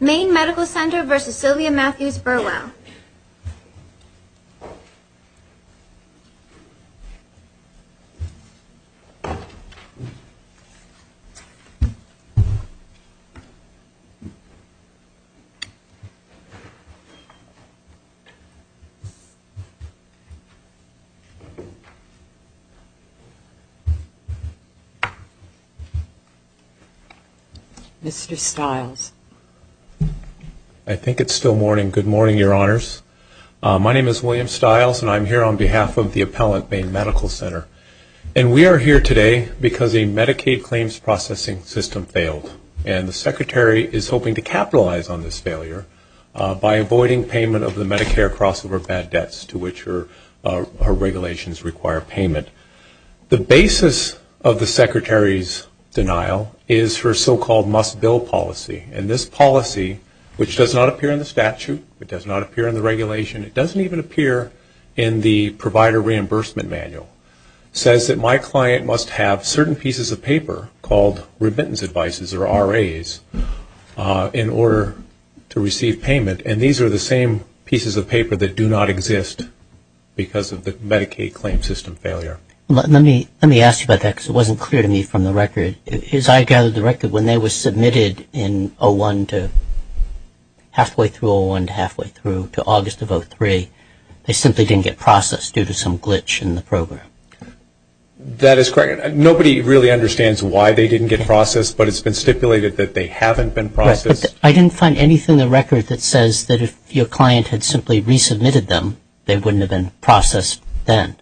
Maine Medical Center v. Sylvia Matthews Burwell Mr. Stiles I think it's still morning. And good morning, your honors. My name is William Stiles and I'm here on behalf of the appellant Maine Medical Center. And we are here today because a Medicaid claims processing system failed. And the secretary is hoping to capitalize on this failure by avoiding payment of the Medicare crossover bad debts to which her regulations require payment. The basis of the secretary's denial is her so-called must-bill policy. And this policy, which does not appear in the statute, it does not appear in the regulation, it doesn't even appear in the provider reimbursement manual, says that my client must have certain pieces of paper called remittance advices or RAs in order to receive payment. And these are the same pieces of paper that do not exist because of the Medicaid claims system failure. Let me ask you about that because it wasn't clear to me from the record. As I gathered the record, when they were submitted in 01 to halfway through 01 to halfway through to August of 03, they simply didn't get processed due to some glitch in the program. That is correct. Nobody really understands why they didn't get processed, but it's been stipulated that they haven't been processed. Right. But I didn't find anything in the record that says that if your client had simply resubmitted them, they wouldn't have been processed then.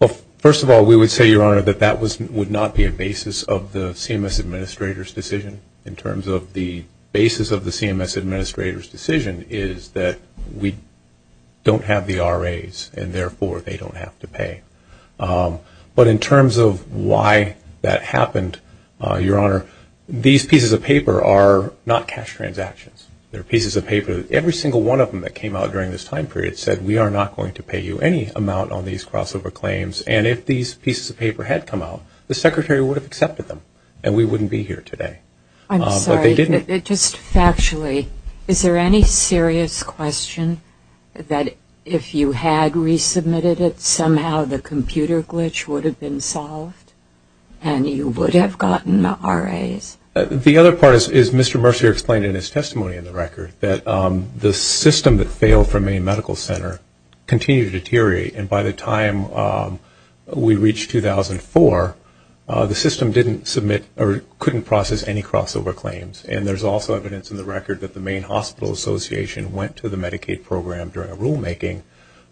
Well, first of all, we would say, Your Honor, that that would not be a basis of the CMS Administrator's decision in terms of the basis of the CMS Administrator's decision is that we don't have the RAs and therefore they don't have to pay. But in terms of why that happened, Your Honor, these pieces of paper are not cash transactions. They're pieces of paper. Every single one of them that came out during this time period said we are not going to pay you any amount on these crossover claims and if these pieces of paper had come out, the Secretary would have accepted them and we wouldn't be here today. I'm sorry. But they didn't. Just factually, is there any serious question that if you had resubmitted it, somehow the computer glitch would have been solved and you would have gotten the RAs? The other part is Mr. Mercer explained in his testimony in the record that the system that failed for Maine Medical Center continued to deteriorate and by the time we reached 2004, the system didn't submit or couldn't process any crossover claims and there's also evidence in the record that the Maine Hospital Association went to the Medicaid program during a rulemaking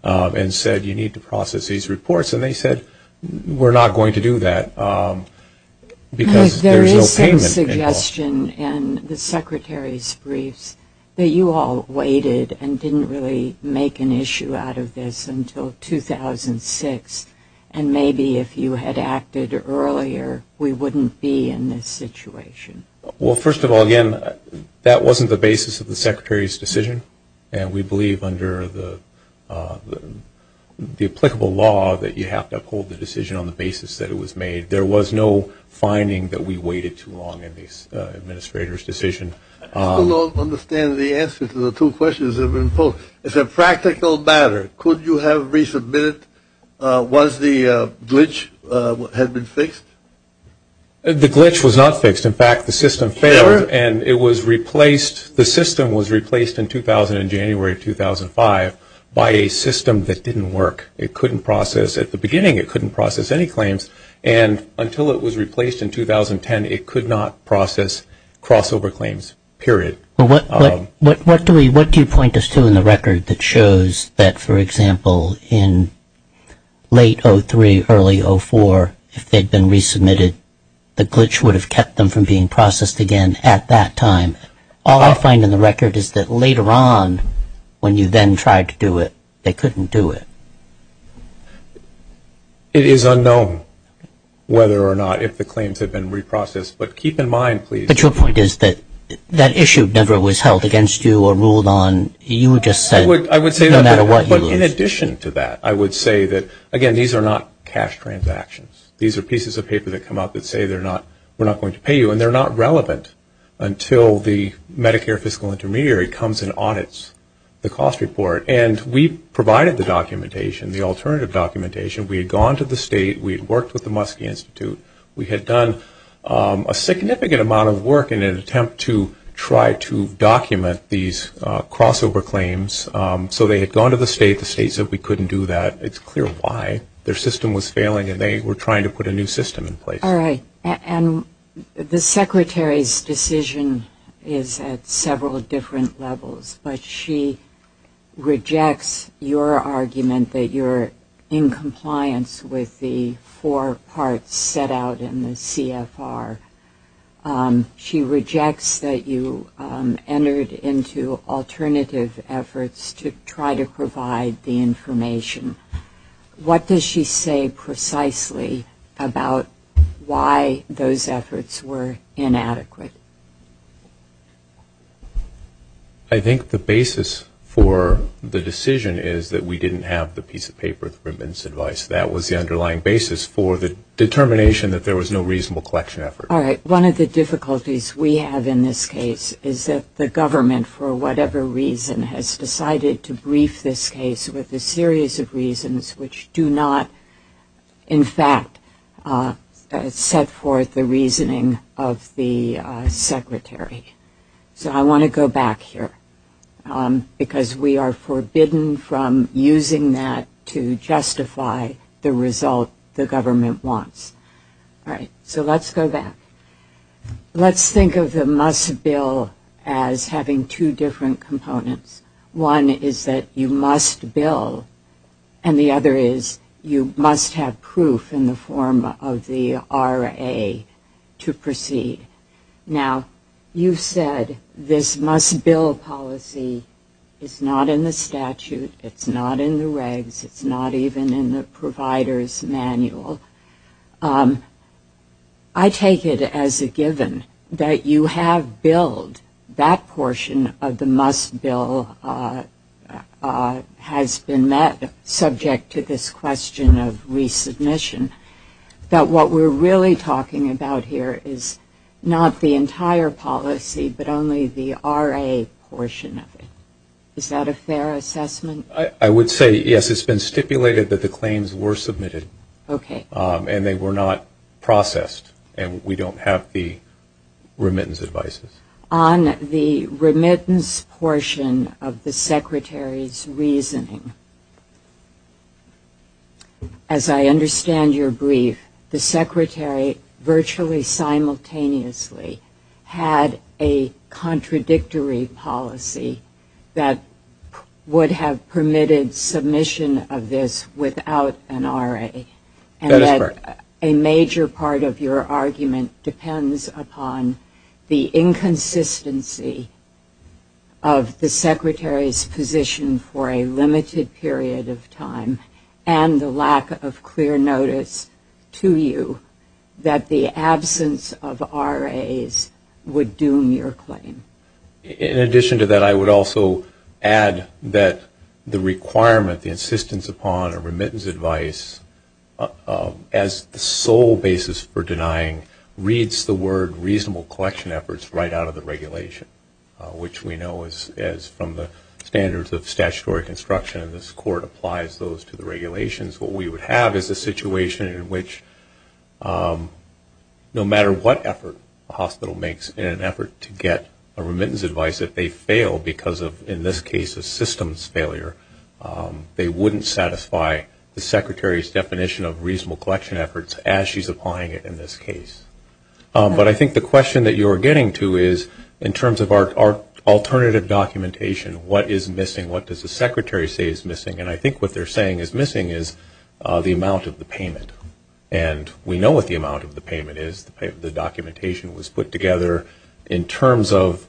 and said you need to process these reports and they said we're not going to do that because there's no payment at all. There is some suggestion in the Secretary's briefs that you all waited and didn't really make an issue out of this until 2006 and maybe if you had acted earlier, we wouldn't be in this situation. Well, first of all, again, that wasn't the basis of the Secretary's decision and we believe under the applicable law that you have to uphold the decision on the basis that it was made. There was no finding that we waited too long in the Administrator's decision. I don't understand the answer to the two questions that have been posed. As a practical matter, could you have resubmitted once the glitch had been fixed? The glitch was not fixed. In fact, the system failed and it was replaced. The system was replaced in 2000 and January of 2005 by a system that didn't work. It couldn't process. At the beginning, it couldn't process any claims and until it was replaced in 2010, it could not process crossover claims, period. What do you point us to in the record that shows that, for example, in late 2003, early 2004, if they had been resubmitted, the glitch would have kept them from being processed again at that time. All I find in the record is that later on, when you then tried to do it, they couldn't do it. It is unknown whether or not if the claims had been reprocessed, but keep in mind, please. But your point is that that issue never was held against you or ruled on. You just said no matter what you lose. But in addition to that, I would say that, again, these are not cash transactions. These are pieces of paper that come up that say they're not, we're not going to pay you and they're not relevant until the Medicare fiscal intermediary comes and audits the cost report. And we provided the documentation, the alternative documentation. We had gone to the state. We had worked with the Muskie Institute. We had done a significant amount of work in an attempt to try to document these crossover claims. So they had gone to the state. The state said we couldn't do that. It's clear why. Their system was failing and they were trying to put a new system in place. All right. And the Secretary's decision is at several different levels. But she rejects your argument that you're in compliance with the four parts set out in the CFR. She rejects that you entered into alternative efforts to try to provide the information. What does she say precisely about why those efforts were inadequate? I think the basis for the decision is that we didn't have the piece of paper, the remittance advice. That was the underlying basis for the determination that there was no reasonable collection effort. All right. One of the difficulties we have in this case is that the government, for whatever reason, has decided to brief this case with a series of reasons which do not, in fact, set forth the reasoning of the Secretary. So I want to go back here because we are forbidden from using that to justify the result the government wants. All right. So let's go back. Let's think of the must-bill as having two different components. One is that you must bill, and the other is you must have proof in the form of the RA to proceed. Now, you've said this must-bill policy is not in the statute, it's not in the regs, it's not even in the provider's manual. I take it as a given that you have billed that portion of the must-bill has been met, subject to this question of resubmission, that what we're really talking about here is not the entire policy but only the RA portion of it. Is that a fair assessment? I would say, yes, it's been stipulated that the claims were submitted. Okay. And they were not processed, and we don't have the remittance advices. On the remittance portion of the Secretary's reasoning, as I understand your brief, the Secretary virtually simultaneously had a contradictory policy that would have permitted submission of this without an RA. That is correct. A major part of your argument depends upon the inconsistency of the Secretary's position for a limited period of time and the lack of clear notice to you that the absence of RAs would doom your claim. In addition to that, I would also add that the requirement, the insistence upon a remittance advice, as the sole basis for denying reads the word reasonable collection efforts right out of the regulation, which we know is from the standards of statutory construction, and this Court applies those to the regulations. What we would have is a situation in which no matter what effort a hospital makes in an effort to get a remittance advice, if they fail because of, in this case, a systems failure, they wouldn't satisfy the Secretary's definition of reasonable collection efforts as she's applying it in this case. But I think the question that you are getting to is, in terms of our alternative documentation, what is missing? What does the Secretary say is missing? And I think what they're saying is missing is the amount of the payment. And we know what the amount of the payment is. The documentation was put together in terms of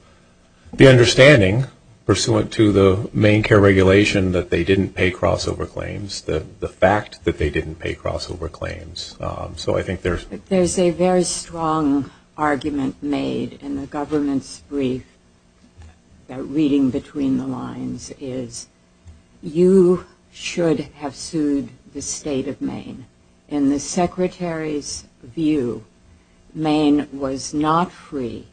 the understanding pursuant to the main care regulation that they didn't pay crossover claims, the fact that they didn't pay crossover claims. So I think there's... should have sued the State of Maine. In the Secretary's view, Maine was not free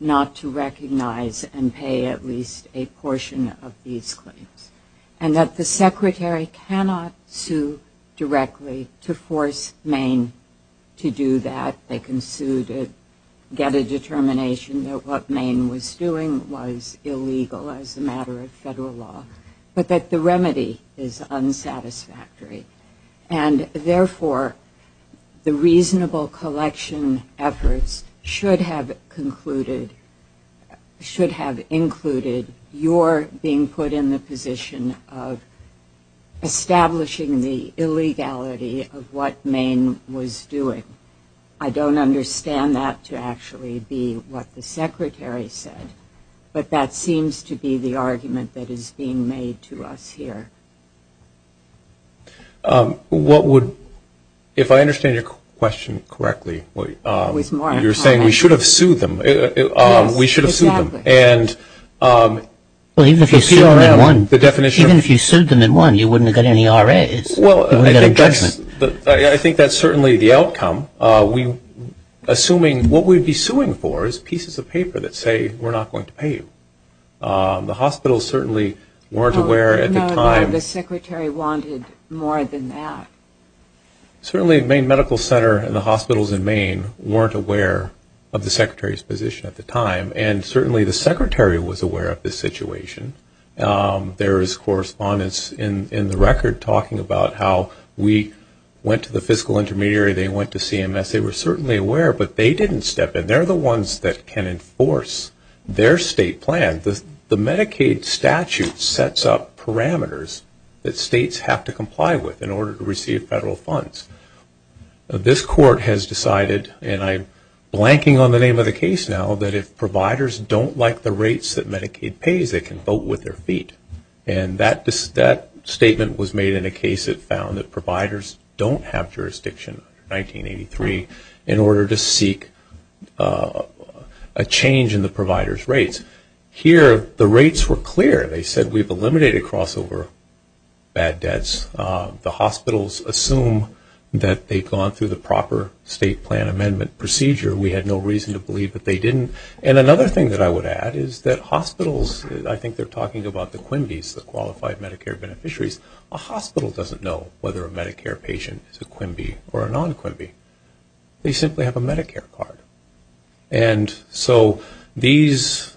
not to recognize and pay at least a portion of these claims. And that the Secretary cannot sue directly to force Maine to do that. They can sue to get a determination that what Maine was doing was illegal as a matter of federal law. But that the remedy is unsatisfactory. And therefore, the reasonable collection efforts should have concluded... should have included your being put in the position of establishing the illegality of what Maine was doing. I don't understand that to actually be what the Secretary said. But that seems to be the argument that is being made to us here. What would... if I understand your question correctly, you're saying we should have sued them. We should have sued them. Even if you sued them in one, you wouldn't have got any RAs. You wouldn't get a judgment. I think that's certainly the outcome. Assuming what we'd be suing for is pieces of paper that say we're not going to pay you. The hospitals certainly weren't aware at the time... I didn't know that the Secretary wanted more than that. Certainly Maine Medical Center and the hospitals in Maine weren't aware of the Secretary's position at the time. And certainly the Secretary was aware of this situation. There is correspondence in the record talking about how we went to the fiscal intermediary, they went to CMS. They were certainly aware, but they didn't step in. They're the ones that can enforce their state plan. The Medicaid statute sets up parameters that states have to comply with in order to receive federal funds. This court has decided, and I'm blanking on the name of the case now, that if providers don't like the rates that Medicaid pays, they can vote with their feet. And that statement was made in a case that found that providers don't have jurisdiction under 1983 in order to seek a change in the provider's rates. Here the rates were clear. They said we've eliminated crossover bad debts. The hospitals assume that they've gone through the proper state plan amendment procedure. We had no reason to believe that they didn't. And another thing that I would add is that hospitals, I think they're talking about the Quimby's, the qualified Medicare beneficiaries. A hospital doesn't know whether a Medicare patient is a Quimby or a non-Quimby. They simply have a Medicare card. And so these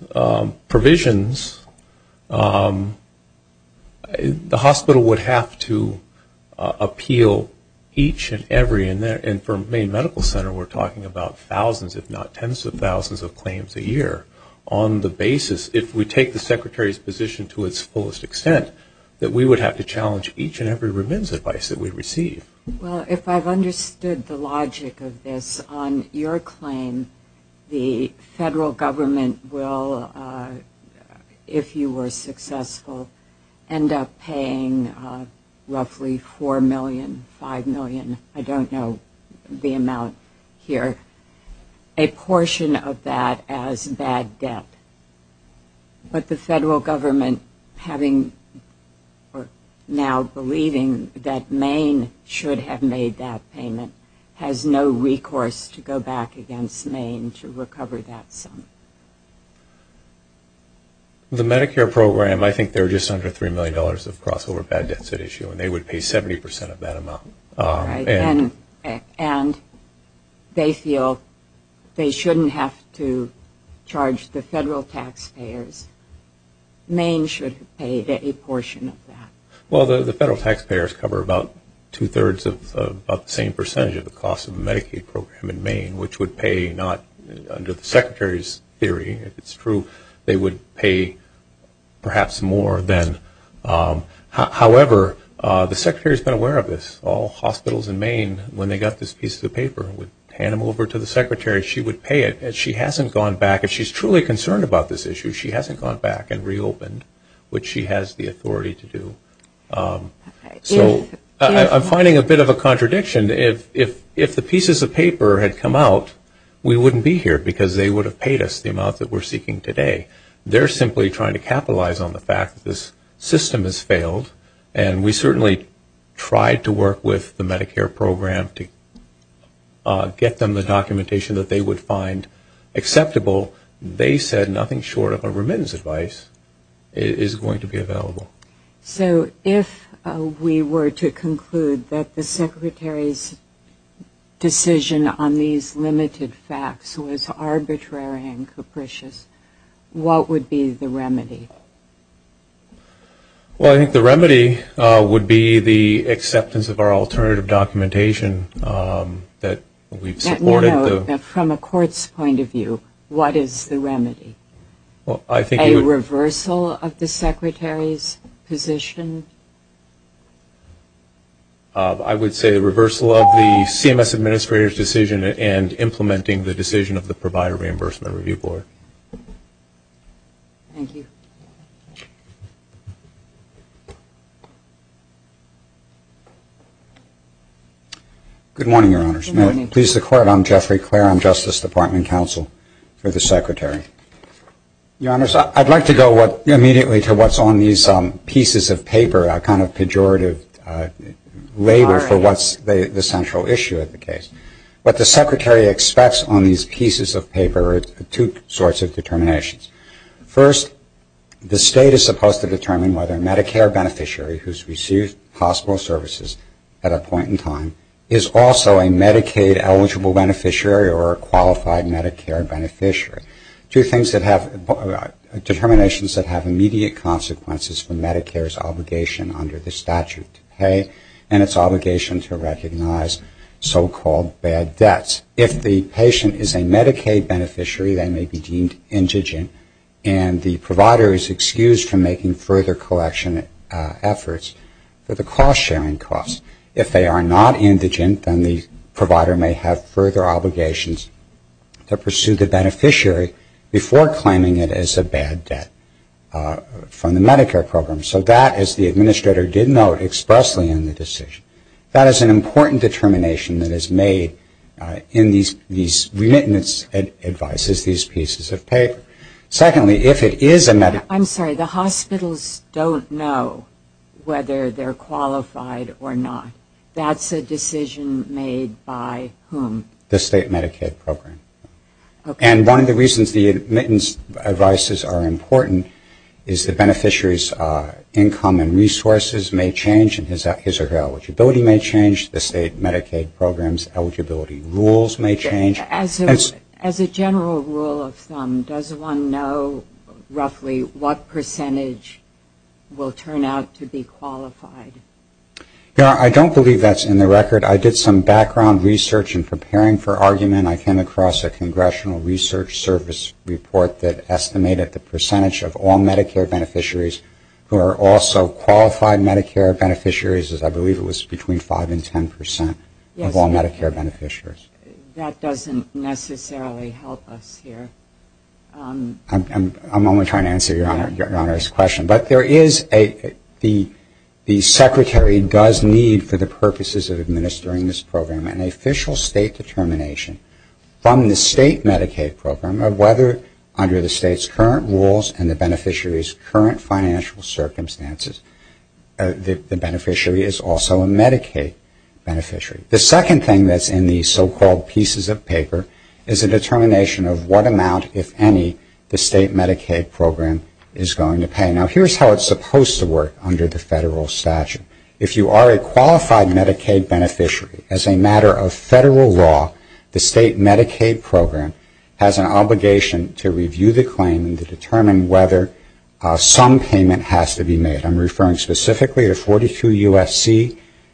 provisions, the hospital would have to appeal each and every, and for Maine Medical Center we're talking about thousands, if not tens of thousands of claims a year on the basis, if we take the Secretary's position to its fullest extent, that we would have to challenge each and every remittance advice that we receive. Well, if I've understood the logic of this, on your claim, the federal government will, if you were successful, end up paying roughly $4 million, $5 million, I don't know the amount here, a portion of that as bad debt. But the federal government, having or now believing that Maine should have made that payment, has no recourse to go back against Maine to recover that sum. The Medicare program, I think they're just under $3 million of crossover bad debts at issue, and they would pay 70 percent of that amount. And they feel they shouldn't have to charge the federal taxpayers. Maine should have paid a portion of that. Well, the federal taxpayers cover about two-thirds of the same percentage of the cost of a Medicaid program in Maine, which would pay not, under the Secretary's theory, if it's true, they would pay perhaps more than. However, the Secretary has been aware of this. All hospitals in Maine, when they got this piece of the paper, would hand them over to the Secretary. She would pay it. And she hasn't gone back. If she's truly concerned about this issue, she hasn't gone back and reopened, which she has the authority to do. So I'm finding a bit of a contradiction. If the pieces of paper had come out, we wouldn't be here, because they would have paid us the amount that we're seeking today. They're simply trying to capitalize on the fact that this system has failed, and we certainly tried to work with the Medicare program to get them the documentation that they would find acceptable. They said nothing short of a remittance advice is going to be available. So if we were to conclude that the Secretary's decision on these limited facts was arbitrary and capricious, what would be the remedy? Well, I think the remedy would be the acceptance of our alternative documentation that we've supported. Let me know, from a court's point of view, what is the remedy? A reversal of the Secretary's position? I would say a reversal of the CMS Administrator's decision and implementing the decision of the Provider Reimbursement Review Board. Thank you. Good morning, Your Honors. Good morning. I'm Jeffrey Clare. I'm Justice Department Counsel for the Secretary. Your Honors, I'd like to go immediately to what's on these pieces of paper, a kind of pejorative label for what's the central issue of the case. What the Secretary expects on these pieces of paper are two sorts of determinations. First, the State is supposed to determine whether a Medicare beneficiary who's received hospital services at a point in time is also a Medicaid-eligible beneficiary or a qualified Medicare beneficiary. Two things that have determinations that have immediate consequences for Medicare's obligation under the statute to pay and its obligation to recognize so-called bad debts. If the patient is a Medicaid beneficiary, they may be deemed indigent and the provider is excused from making further collection efforts for the cost-sharing costs. If they are not indigent, then the provider may have further obligations to pursue the beneficiary before claiming it as a bad debt from the Medicare program. So that, as the Administrator did note expressly in the decision, that is an important determination that is made in these remittance advices, these pieces of paper. Secondly, if it is a Medicaid... I'm sorry, the hospitals don't know whether they're qualified or not. That's a decision made by whom? The State Medicaid program. Okay. And one of the reasons the remittance advices are important is the beneficiary's income and resources may change and his or her eligibility may change. The State Medicaid program's eligibility rules may change. As a general rule of thumb, does one know roughly what percentage will turn out to be qualified? I don't believe that's in the record. I did some background research in preparing for argument. I came across a Congressional Research Service report that estimated the percentage of all Medicare beneficiaries who are also qualified Medicare beneficiaries is I believe it was between 5% and 10% of all Medicare beneficiaries. That doesn't necessarily help us here. I'm only trying to answer Your Honor's question. But there is a... the Secretary does need for the purposes of administering this program an official State determination from the State Medicaid program of whether under the State's current rules and the beneficiary's current financial circumstances the beneficiary is also a Medicaid beneficiary. The second thing that's in the so-called pieces of paper is a determination of what amount, if any, the State Medicaid program is going to pay. Now here's how it's supposed to work under the Federal statute. If you are a qualified Medicaid beneficiary, as a matter of Federal law, the State Medicaid program has an obligation to review the claim and to determine whether some payment has to be made. I'm referring specifically to 42 U.S.C.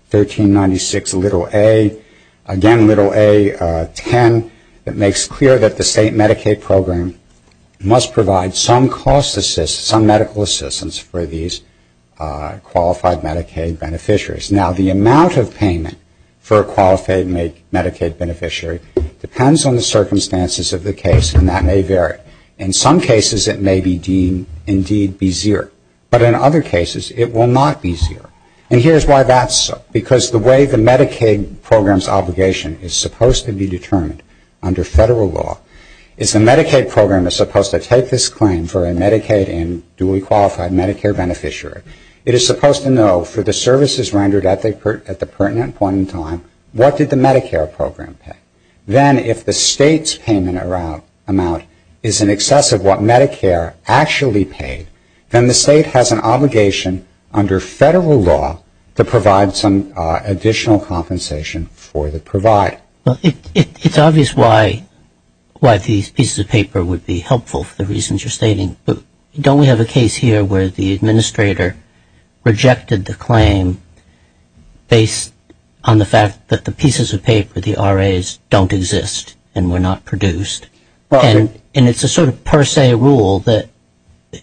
1396 little a, again little a 10, that makes clear that the State Medicaid program must provide some cost assistance, some medical assistance for these qualified Medicaid beneficiaries. Now the amount of payment for a qualified Medicaid beneficiary depends on the circumstances of the case, and that may vary. In some cases it may be deemed indeed be zero. But in other cases it will not be zero. And here's why that's so. Because the way the Medicaid program's obligation is supposed to be determined under Federal law is the Medicaid program is supposed to take this claim for a Medicaid and duly qualified Medicare beneficiary. It is supposed to know for the services rendered at the pertinent point in time what did the Medicare program pay. Then if the State's payment amount is in excess of what Medicare actually paid, then the State has an obligation under Federal law to provide some additional compensation for the provider. It's obvious why these pieces of paper would be helpful for the reasons you're stating. But don't we have a case here where the administrator rejected the claim based on the fact that the pieces of paper, the RAs, don't exist and were not produced? And it's a sort of per se rule that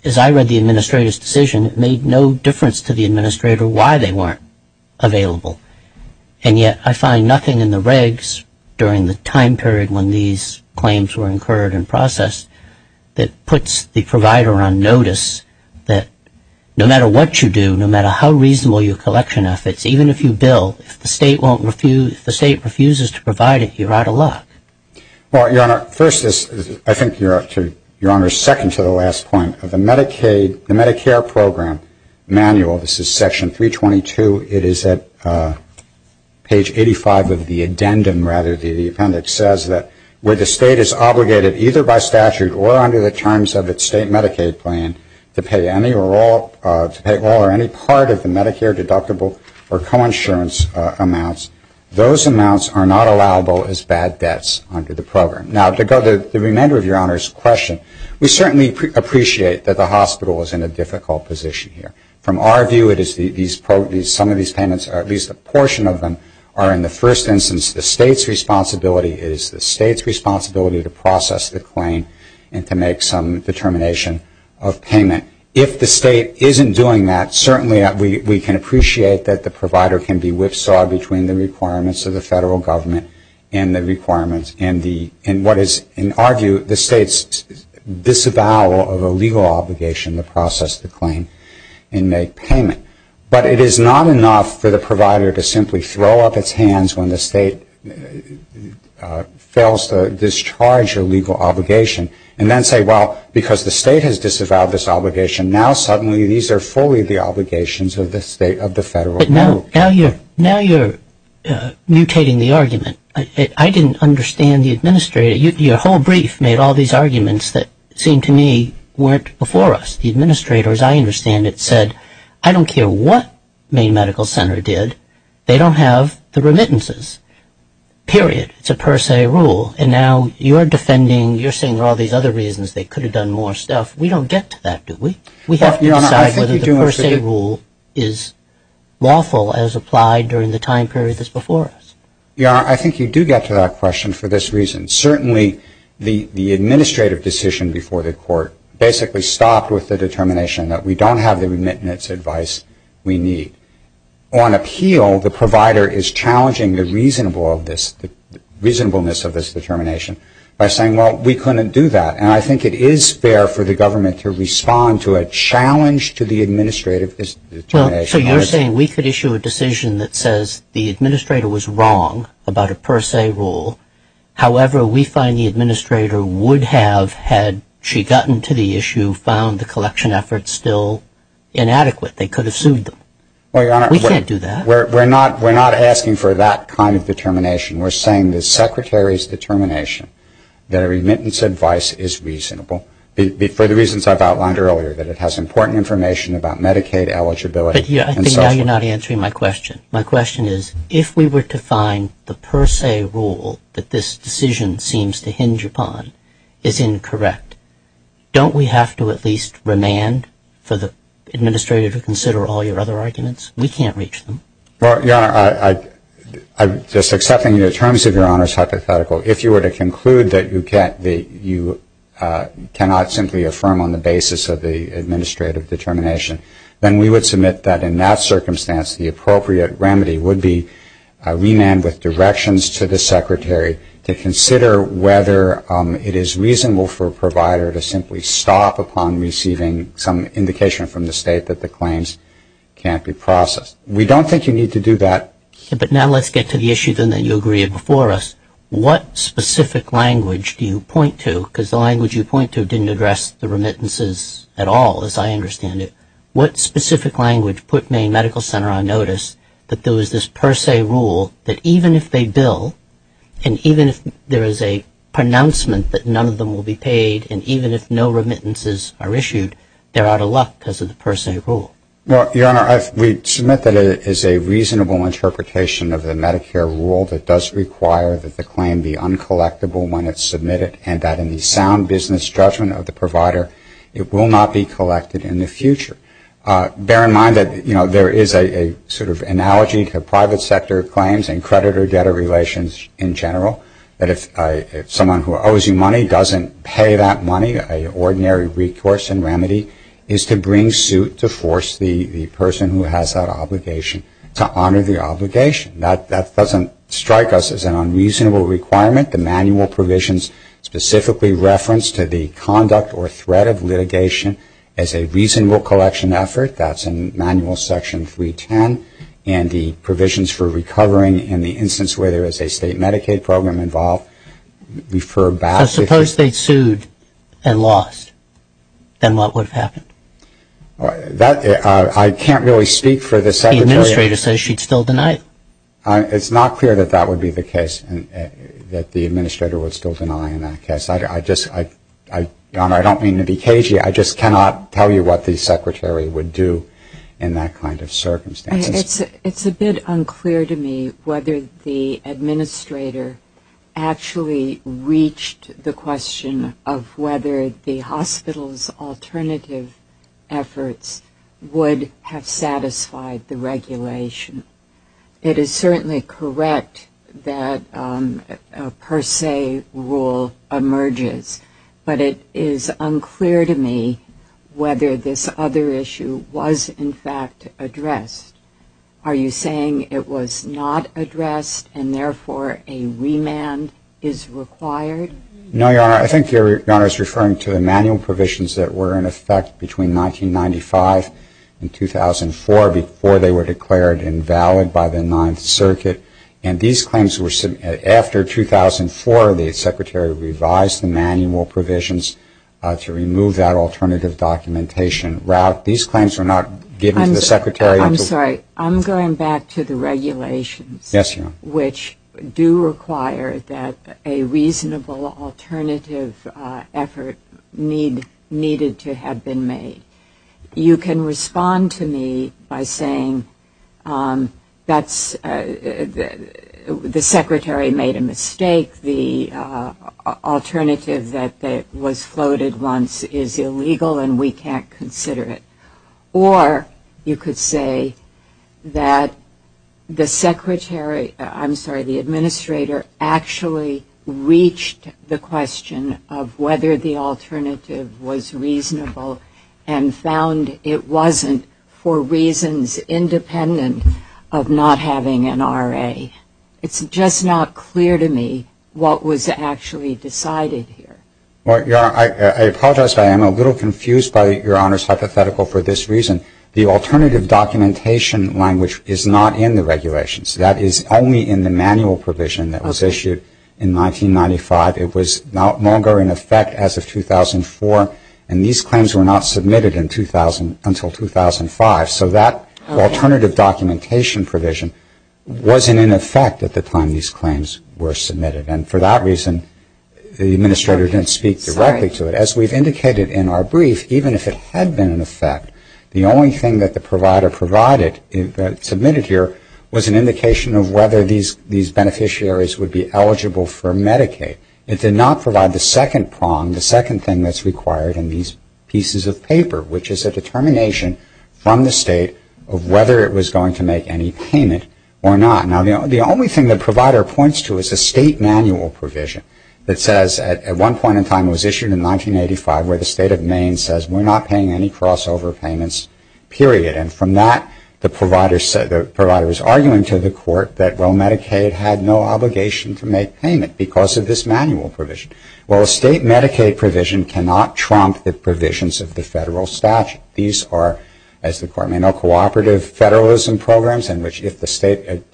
as I read the administrator's decision, it made no difference to the administrator why they weren't available. And yet I find nothing in the regs during the time period when these claims were incurred and processed that puts the provider on notice that no matter what you do, no matter how reasonable your collection efforts, even if you bill, if the State refuses to provide it, you're out of luck. Well, Your Honor, first this, I think, Your Honor, second to the last point, the Medicare program manual, this is section 322, it is at page 85 of the addendum rather, the appendix says that where the State is obligated either by statute or under the terms of its State Medicaid plan to pay any or all, to pay all or any part of the Medicare deductible or coinsurance amounts, those amounts are not allowable as bad debts under the program. Now, to go to the remainder of Your Honor's question, we certainly appreciate that the hospital is in a difficult position here. From our view, it is some of these payments, or at least a portion of them, are in the first instance the State's responsibility. It is the State's responsibility to process the claim and to make some determination of payment. If the State isn't doing that, certainly we can appreciate that the provider can be whipsawed between the requirements of the Federal Government and the requirements in what is, in our view, the State's disavowal of a legal obligation to process the claim and make payment. But it is not enough for the provider to simply throw up its hands when the State fails to discharge a legal obligation and then say, well, because the State has disavowed this obligation, now suddenly these are fully the obligations of the State, of the Federal Government. But now you're mutating the argument. I didn't understand the administrator. Your whole brief made all these arguments that seemed to me weren't before us. The administrator, as I understand it, said, I don't care what Maine Medical Center did. They don't have the remittances. Period. It's a per se rule. And now you're defending, you're saying there are all these other reasons they could have done more stuff. We don't get to that, do we? We have to decide whether the per se rule is lawful as applied during the time period that's before us. Your Honor, I think you do get to that question for this reason. Certainly the administrative decision before the Court basically stopped with the determination that we don't have the remittance advice we need. On appeal, the provider is challenging the reasonableness of this determination by saying, well, we couldn't do that. And I think it is fair for the government to respond to a challenge to the administrative determination. So you're saying we could issue a decision that says the administrator was wrong about a per se rule. However, we find the administrator would have, had she gotten to the issue, found the collection efforts still inadequate. They could have sued them. We can't do that. We're not asking for that kind of determination. We're saying the Secretary's determination that a remittance advice is reasonable, for the reasons I've outlined earlier, that it has important information about Medicaid eligibility. But I think now you're not answering my question. My question is, if we were to find the per se rule that this decision seems to hinge upon is incorrect, don't we have to at least remand for the administrator to consider all your other arguments? We can't reach them. Well, Your Honor, I'm just accepting the terms of Your Honor's hypothetical. If you were to conclude that you cannot simply affirm on the basis of the administrative determination, then we would submit that in that circumstance the appropriate remedy would be remand with directions to the Secretary to consider whether it is reasonable for a provider to simply stop upon receiving some indication from the State that the claims can't be processed. We don't think you need to do that. But now let's get to the issue, then, that you agreed before us. What specific language do you point to? Because the language you point to didn't address the remittances at all, as I understand it. What specific language put Maine Medical Center on notice that there was this per se rule that even if they bill and even if there is a pronouncement that none of them will be paid and even if no remittances are issued, they're out of luck because of the per se rule? Well, Your Honor, we submit that it is a reasonable interpretation of the Medicare rule that does require that the claim be uncollectable when it's submitted and that in the sound business judgment of the provider it will not be collected in the future. Bear in mind that, you know, there is a sort of analogy to private sector claims and creditor-debtor relations in general, that if someone who owes you money doesn't pay that money, an ordinary recourse and remedy is to bring suit to force the person who has that obligation to honor the obligation. That doesn't strike us as an unreasonable requirement. The manual provisions specifically reference to the conduct or threat of litigation as a reasonable collection effort. That's in manual section 310. And the provisions for recovering in the instance where there is a state Medicaid program involved refer back to Suppose they sued and lost. Then what would have happened? I can't really speak for the Secretary. The Administrator says she'd still deny it. It's not clear that that would be the case, that the Administrator would still deny in that case. Your Honor, I don't mean to be cagey. I just cannot tell you what the Secretary would do in that kind of circumstance. It's a bit unclear to me whether the Administrator actually reached the question of whether the hospital's alternative efforts would have satisfied the regulation. It is certainly correct that a per se rule emerges. But it is unclear to me whether this other issue was in fact addressed. Are you saying it was not addressed and therefore a remand is required? No, Your Honor. I think Your Honor is referring to the manual provisions that were in effect between 1995 and 2004 before they were declared invalid by the Ninth Circuit. After 2004, the Secretary revised the manual provisions to remove that alternative documentation route. These claims were not given to the Secretary until I'm sorry. I'm going back to the regulations which do require that a reasonable alternative effort needed to have been made. You can respond to me by saying that the Secretary made a mistake. The alternative that was floated once is illegal and we can't consider it. Or you could say that the Secretary, I'm sorry, the Administrator actually reached the question of whether the wasn't for reasons independent of not having an RA. It's just not clear to me what was actually decided here. Well, Your Honor, I apologize. I am a little confused by Your Honor's hypothetical for this reason. The alternative documentation language is not in the regulations. That is only in the manual provision that was issued in 1995. It was no longer in effect as of 2004. And these claims were not submitted until 2005. So that alternative documentation provision wasn't in effect at the time these claims were submitted. And for that reason, the Administrator didn't speak directly to it. As we've indicated in our brief, even if it had been in effect, the only thing that the provider provided, submitted here, was an indication of whether these beneficiaries would be eligible for Medicaid. It did not provide the second prong, the second thing that's required in these pieces of paper, which is a determination from the State of whether it was going to make any payment or not. Now, the only thing the provider points to is a State manual provision that says at one point in time, it was issued in 1985, where the State of Maine says we're not paying any crossover payments, period. And from that, the provider is arguing to the Court that, well, Medicaid had no obligation to make payment because of this manual provision. Well, a State Medicaid provision cannot trump the provisions of the federal statute. These are, as the Court may know, cooperative federalism programs in which if the State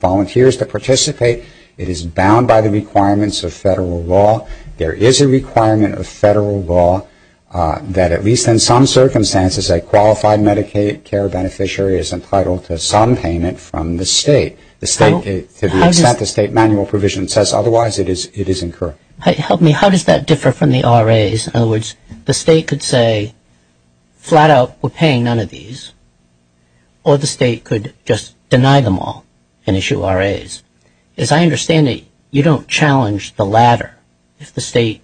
volunteers to participate, it is bound by the requirements of federal law. There is a requirement of federal law that, at least in some circumstances, a qualified Medicaid care beneficiary is entitled to some payment from the State. The State, to the extent the State manual provision says otherwise, it is incurred. Help me. How does that differ from the RAs? In other words, the State could say, flat out, we're paying none of these. Or the State could just deny them all and issue RAs. As I understand it, you don't challenge the latter, if the State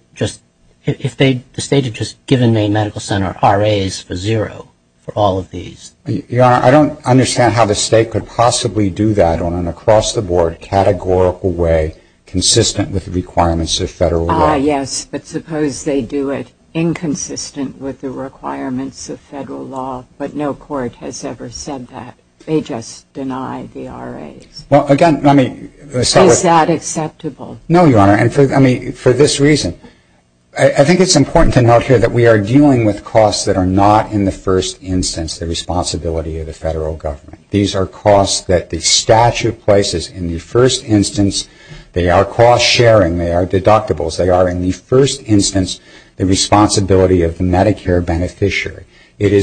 had just given Maine Medical Center RAs for zero for all of these. Your Honor, I don't understand how the State could possibly do that on an across-the-board, categorical way, consistent with the requirements of federal law. Ah, yes. But suppose they do it inconsistent with the requirements of federal law, but no court has ever said that. They just deny the RAs. Is that acceptable? No, Your Honor, and for this reason, I think it's important to note here that we are dealing with costs that are not, in the first instance, the responsibility of the federal government. These are costs that the statute places in the first instance. They are cost-sharing. They are deductibles. They are, in the first instance, the responsibility of the Medicare beneficiary. It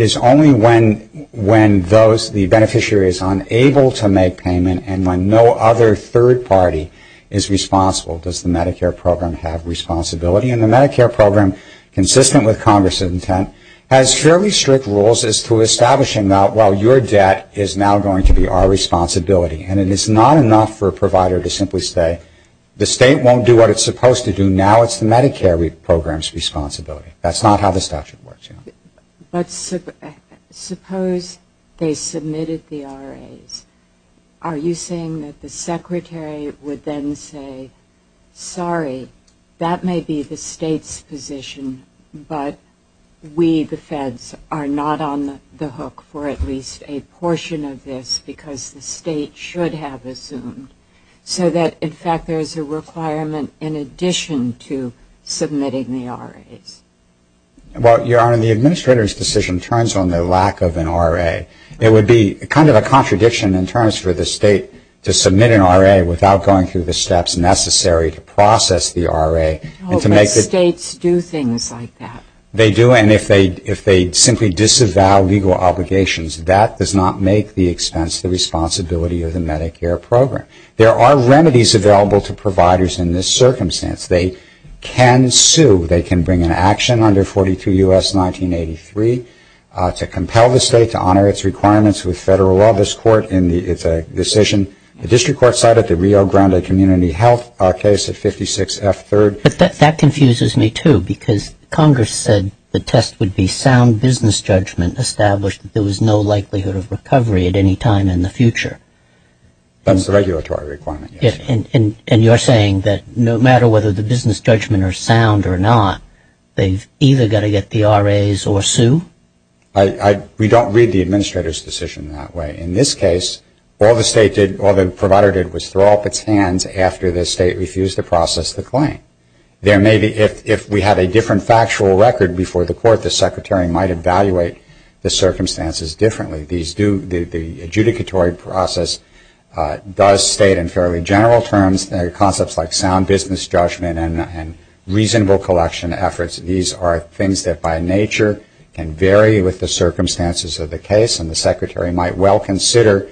is only when those, the beneficiary is unable to make payment and when no other third party is responsible does the Medicare program have responsibility. And the Medicare program, consistent with Congress's intent, has fairly strict rules as to establishing that, well, your debt is now going to be our responsibility. And it is not enough for a provider to simply say, the State won't do what it's supposed to do, now it's the Medicare program's responsibility. That's not how the statute works, Your Honor. But suppose they submitted the RAs. Are you saying that the Secretary would then say, sorry, that may be the State's position, but we, the feds, are not on the hook for at least a portion of this because the State should have assumed, so that, in fact, there is a requirement in addition to submitting the RAs? Well, Your Honor, the Administrator's decision turns on the lack of an RA. It would be kind of a contradiction in terms for the State to submit an RA without going through the steps necessary to process the RA. But States do things like that. They do, and if they simply disavow legal obligations, that does not make the expense the responsibility of the Medicare program. There are remedies available to providers in this circumstance. They can sue. They can bring an action under 42 U.S. 1983 to compel the State to honor its requirements with federal law. This Court, it's a decision. The District Court cited the Rio Grande Community Health case at 56F3rd. But that confuses me, too, because Congress said the test would be sound business judgment established that there was no likelihood of recovery at any time in the future. That's the regulatory requirement, yes. And you're saying that no matter whether the business judgment are sound or not, they've either got to get the RAs or sue? We don't read the Administrator's decision that way. In this case, all the State did, all the provider did, was throw up its hands after the State refused to process the claim. There may be, if we had a different factual record before the Court, the Secretary might evaluate the circumstances differently. The adjudicatory process does state in fairly general terms concepts like sound business judgment and reasonable collection efforts. These are things that by nature can vary with the circumstances of the case, and the Secretary might well consider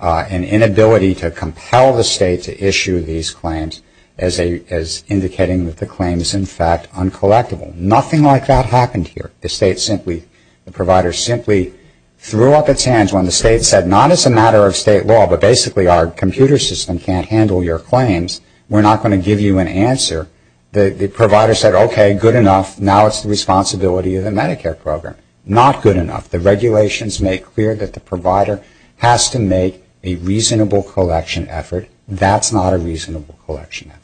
an inability to compel the State to issue these claims as indicating that the claim is, in fact, uncollectible. Nothing like that happened here. The State simply, the provider simply threw up its hands when the State said, not as a matter of State law, but basically our computer system can't handle your claims. We're not going to give you an answer. The provider said, okay, good enough. Now it's the responsibility of the Medicare program. Not good enough. The regulations make clear that the provider has to make a reasonable collection effort. That's not a reasonable collection effort.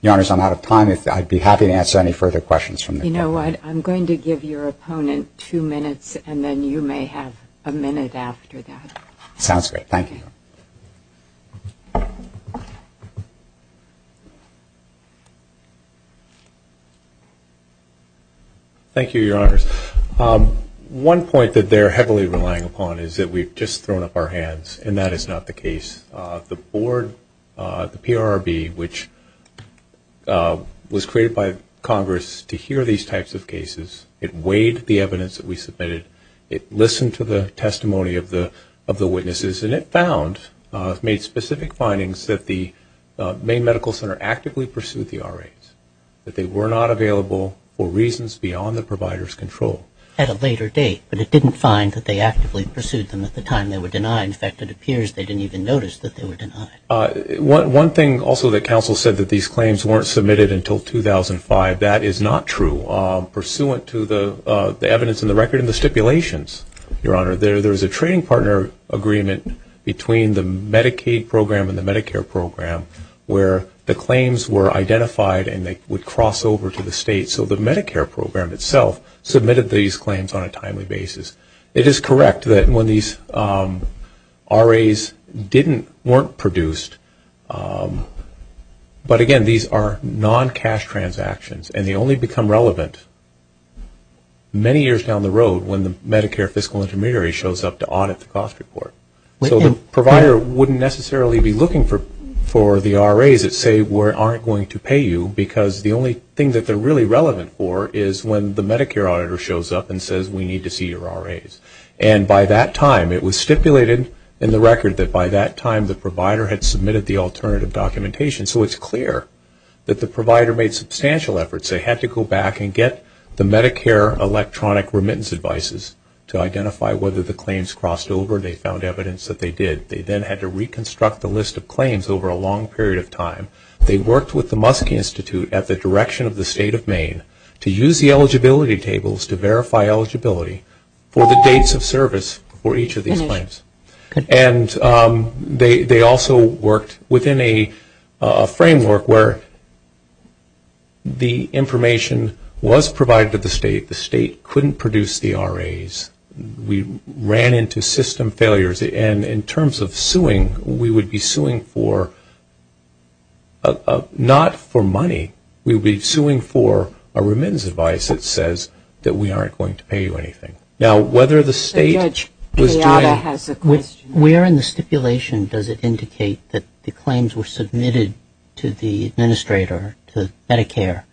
Your Honors, I'm out of time. I'd be happy to answer any further questions from the Court. You know what, I'm going to give your opponent two minutes, and then you may have a minute after that. Sounds good. Thank you. Thank you, Your Honors. One point that they're heavily relying upon is that we've just thrown up our hands, and that is not the case. The board, the PRRB, which was created by Congress to hear these types of cases, it weighed the evidence that we submitted. It listened to the testimony of the witnesses, and it found, made specific findings that the Maine Medical Center actively pursued the RAs, that they were not available for reasons beyond the provider's control. At a later date, but it didn't find that they actively pursued them at the time they were denied. In fact, it appears they didn't even notice that they were denied. One thing also that counsel said, that these claims weren't submitted until 2005. That is not true. Pursuant to the evidence in the record and the stipulations, Your Honor, there is a trading partner agreement between the Medicaid program and the Medicare program where the claims were identified, and they would cross over to the state. So the Medicare program itself submitted these claims on a timely basis. It is correct that when these RAs weren't produced, but again, these are non-cash transactions, and they only become relevant many years down the road when the Medicare fiscal intermediary shows up to audit the cost report. So the provider wouldn't necessarily be looking for the RAs that say we aren't going to pay you, because the only thing that they're really relevant for is when the Medicare auditor shows up and says we need to see your RAs. And by that time, it was stipulated in the record that by that time, the provider had submitted the alternative documentation. So it's clear that the provider made substantial efforts. They had to go back and get the Medicare electronic remittance advices to identify whether the claims crossed over, and they found evidence that they did. They then had to reconstruct the list of claims over a long period of time. To use the eligibility tables to verify eligibility for the dates of service for each of these claims. And they also worked within a framework where the information was provided to the state. The state couldn't produce the RAs. We ran into system failures, and in terms of suing, we would be suing for not for money. We would be suing for a remittance advice that says that we aren't going to pay you anything. Now, whether the state was doing it. Where in the stipulation does it indicate that the claims were submitted to the administrator, to Medicare,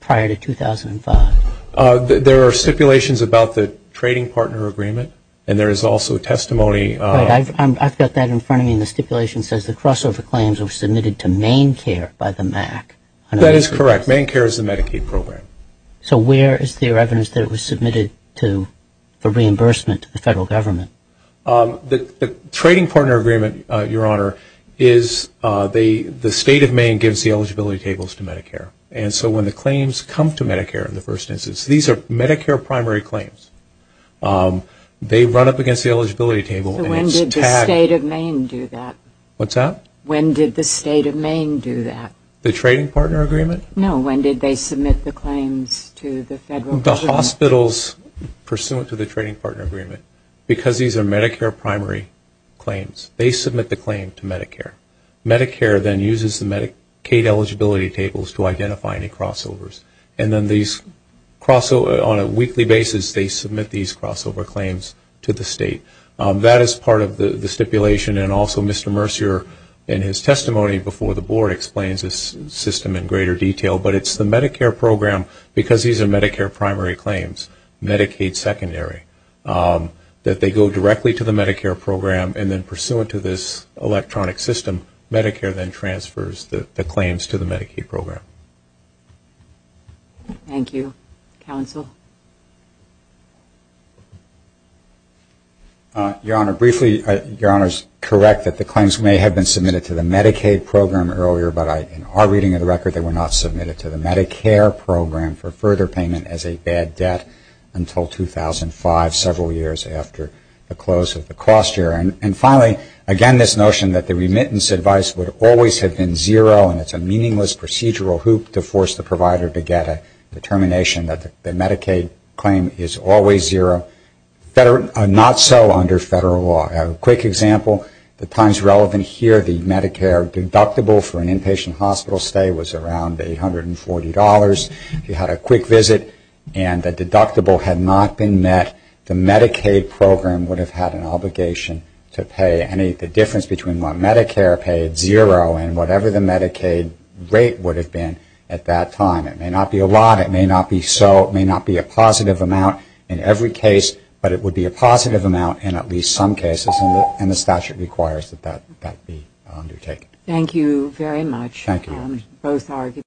prior to 2005? There are stipulations about the trading partner agreement, and there is also testimony. I've got that in front of me in the stipulation. The stipulation says the crossover claims were submitted to MaineCare by the MAC. That is correct. MaineCare is the Medicaid program. So where is there evidence that it was submitted for reimbursement to the federal government? The trading partner agreement, Your Honor, is the state of Maine gives the eligibility tables to Medicare. And so when the claims come to Medicare in the first instance, these are Medicare primary claims. They run up against the eligibility table. So when did the state of Maine do that? What's that? When did the state of Maine do that? The trading partner agreement? No, when did they submit the claims to the federal government? The hospitals, pursuant to the trading partner agreement, because these are Medicare primary claims, they submit the claim to Medicare. Medicare then uses the Medicaid eligibility tables to identify any crossovers. And then on a weekly basis, they submit these crossover claims to the state. That is part of the stipulation. And also Mr. Mercier, in his testimony before the Board, explains this system in greater detail. But it's the Medicare program, because these are Medicare primary claims, Medicaid secondary, that they go directly to the Medicare program, and then pursuant to this electronic system, Medicare then transfers the claims to the Medicaid program. Thank you. Counsel? Your Honor, briefly, Your Honor is correct that the claims may have been submitted to the Medicaid program earlier, but in our reading of the record, they were not submitted to the Medicare program for further payment as a bad debt until 2005, several years after the close of the cost year. And finally, again, this notion that the remittance advice would always have been zero and it's a meaningless procedural hoop to force the provider to get a determination that the Medicaid claim is always zero, not so under federal law. A quick example, the times relevant here, the Medicare deductible for an inpatient hospital stay was around $840. If you had a quick visit and the deductible had not been met, the Medicaid program would have had an obligation to pay any, the difference between what Medicare paid, zero, and whatever the Medicaid rate would have been at that time. It may not be a lot, it may not be so, it may not be a positive amount in every case, but it would be a positive amount in at least some cases, and the statute requires that that be undertaken. Thank you very much. Thank you.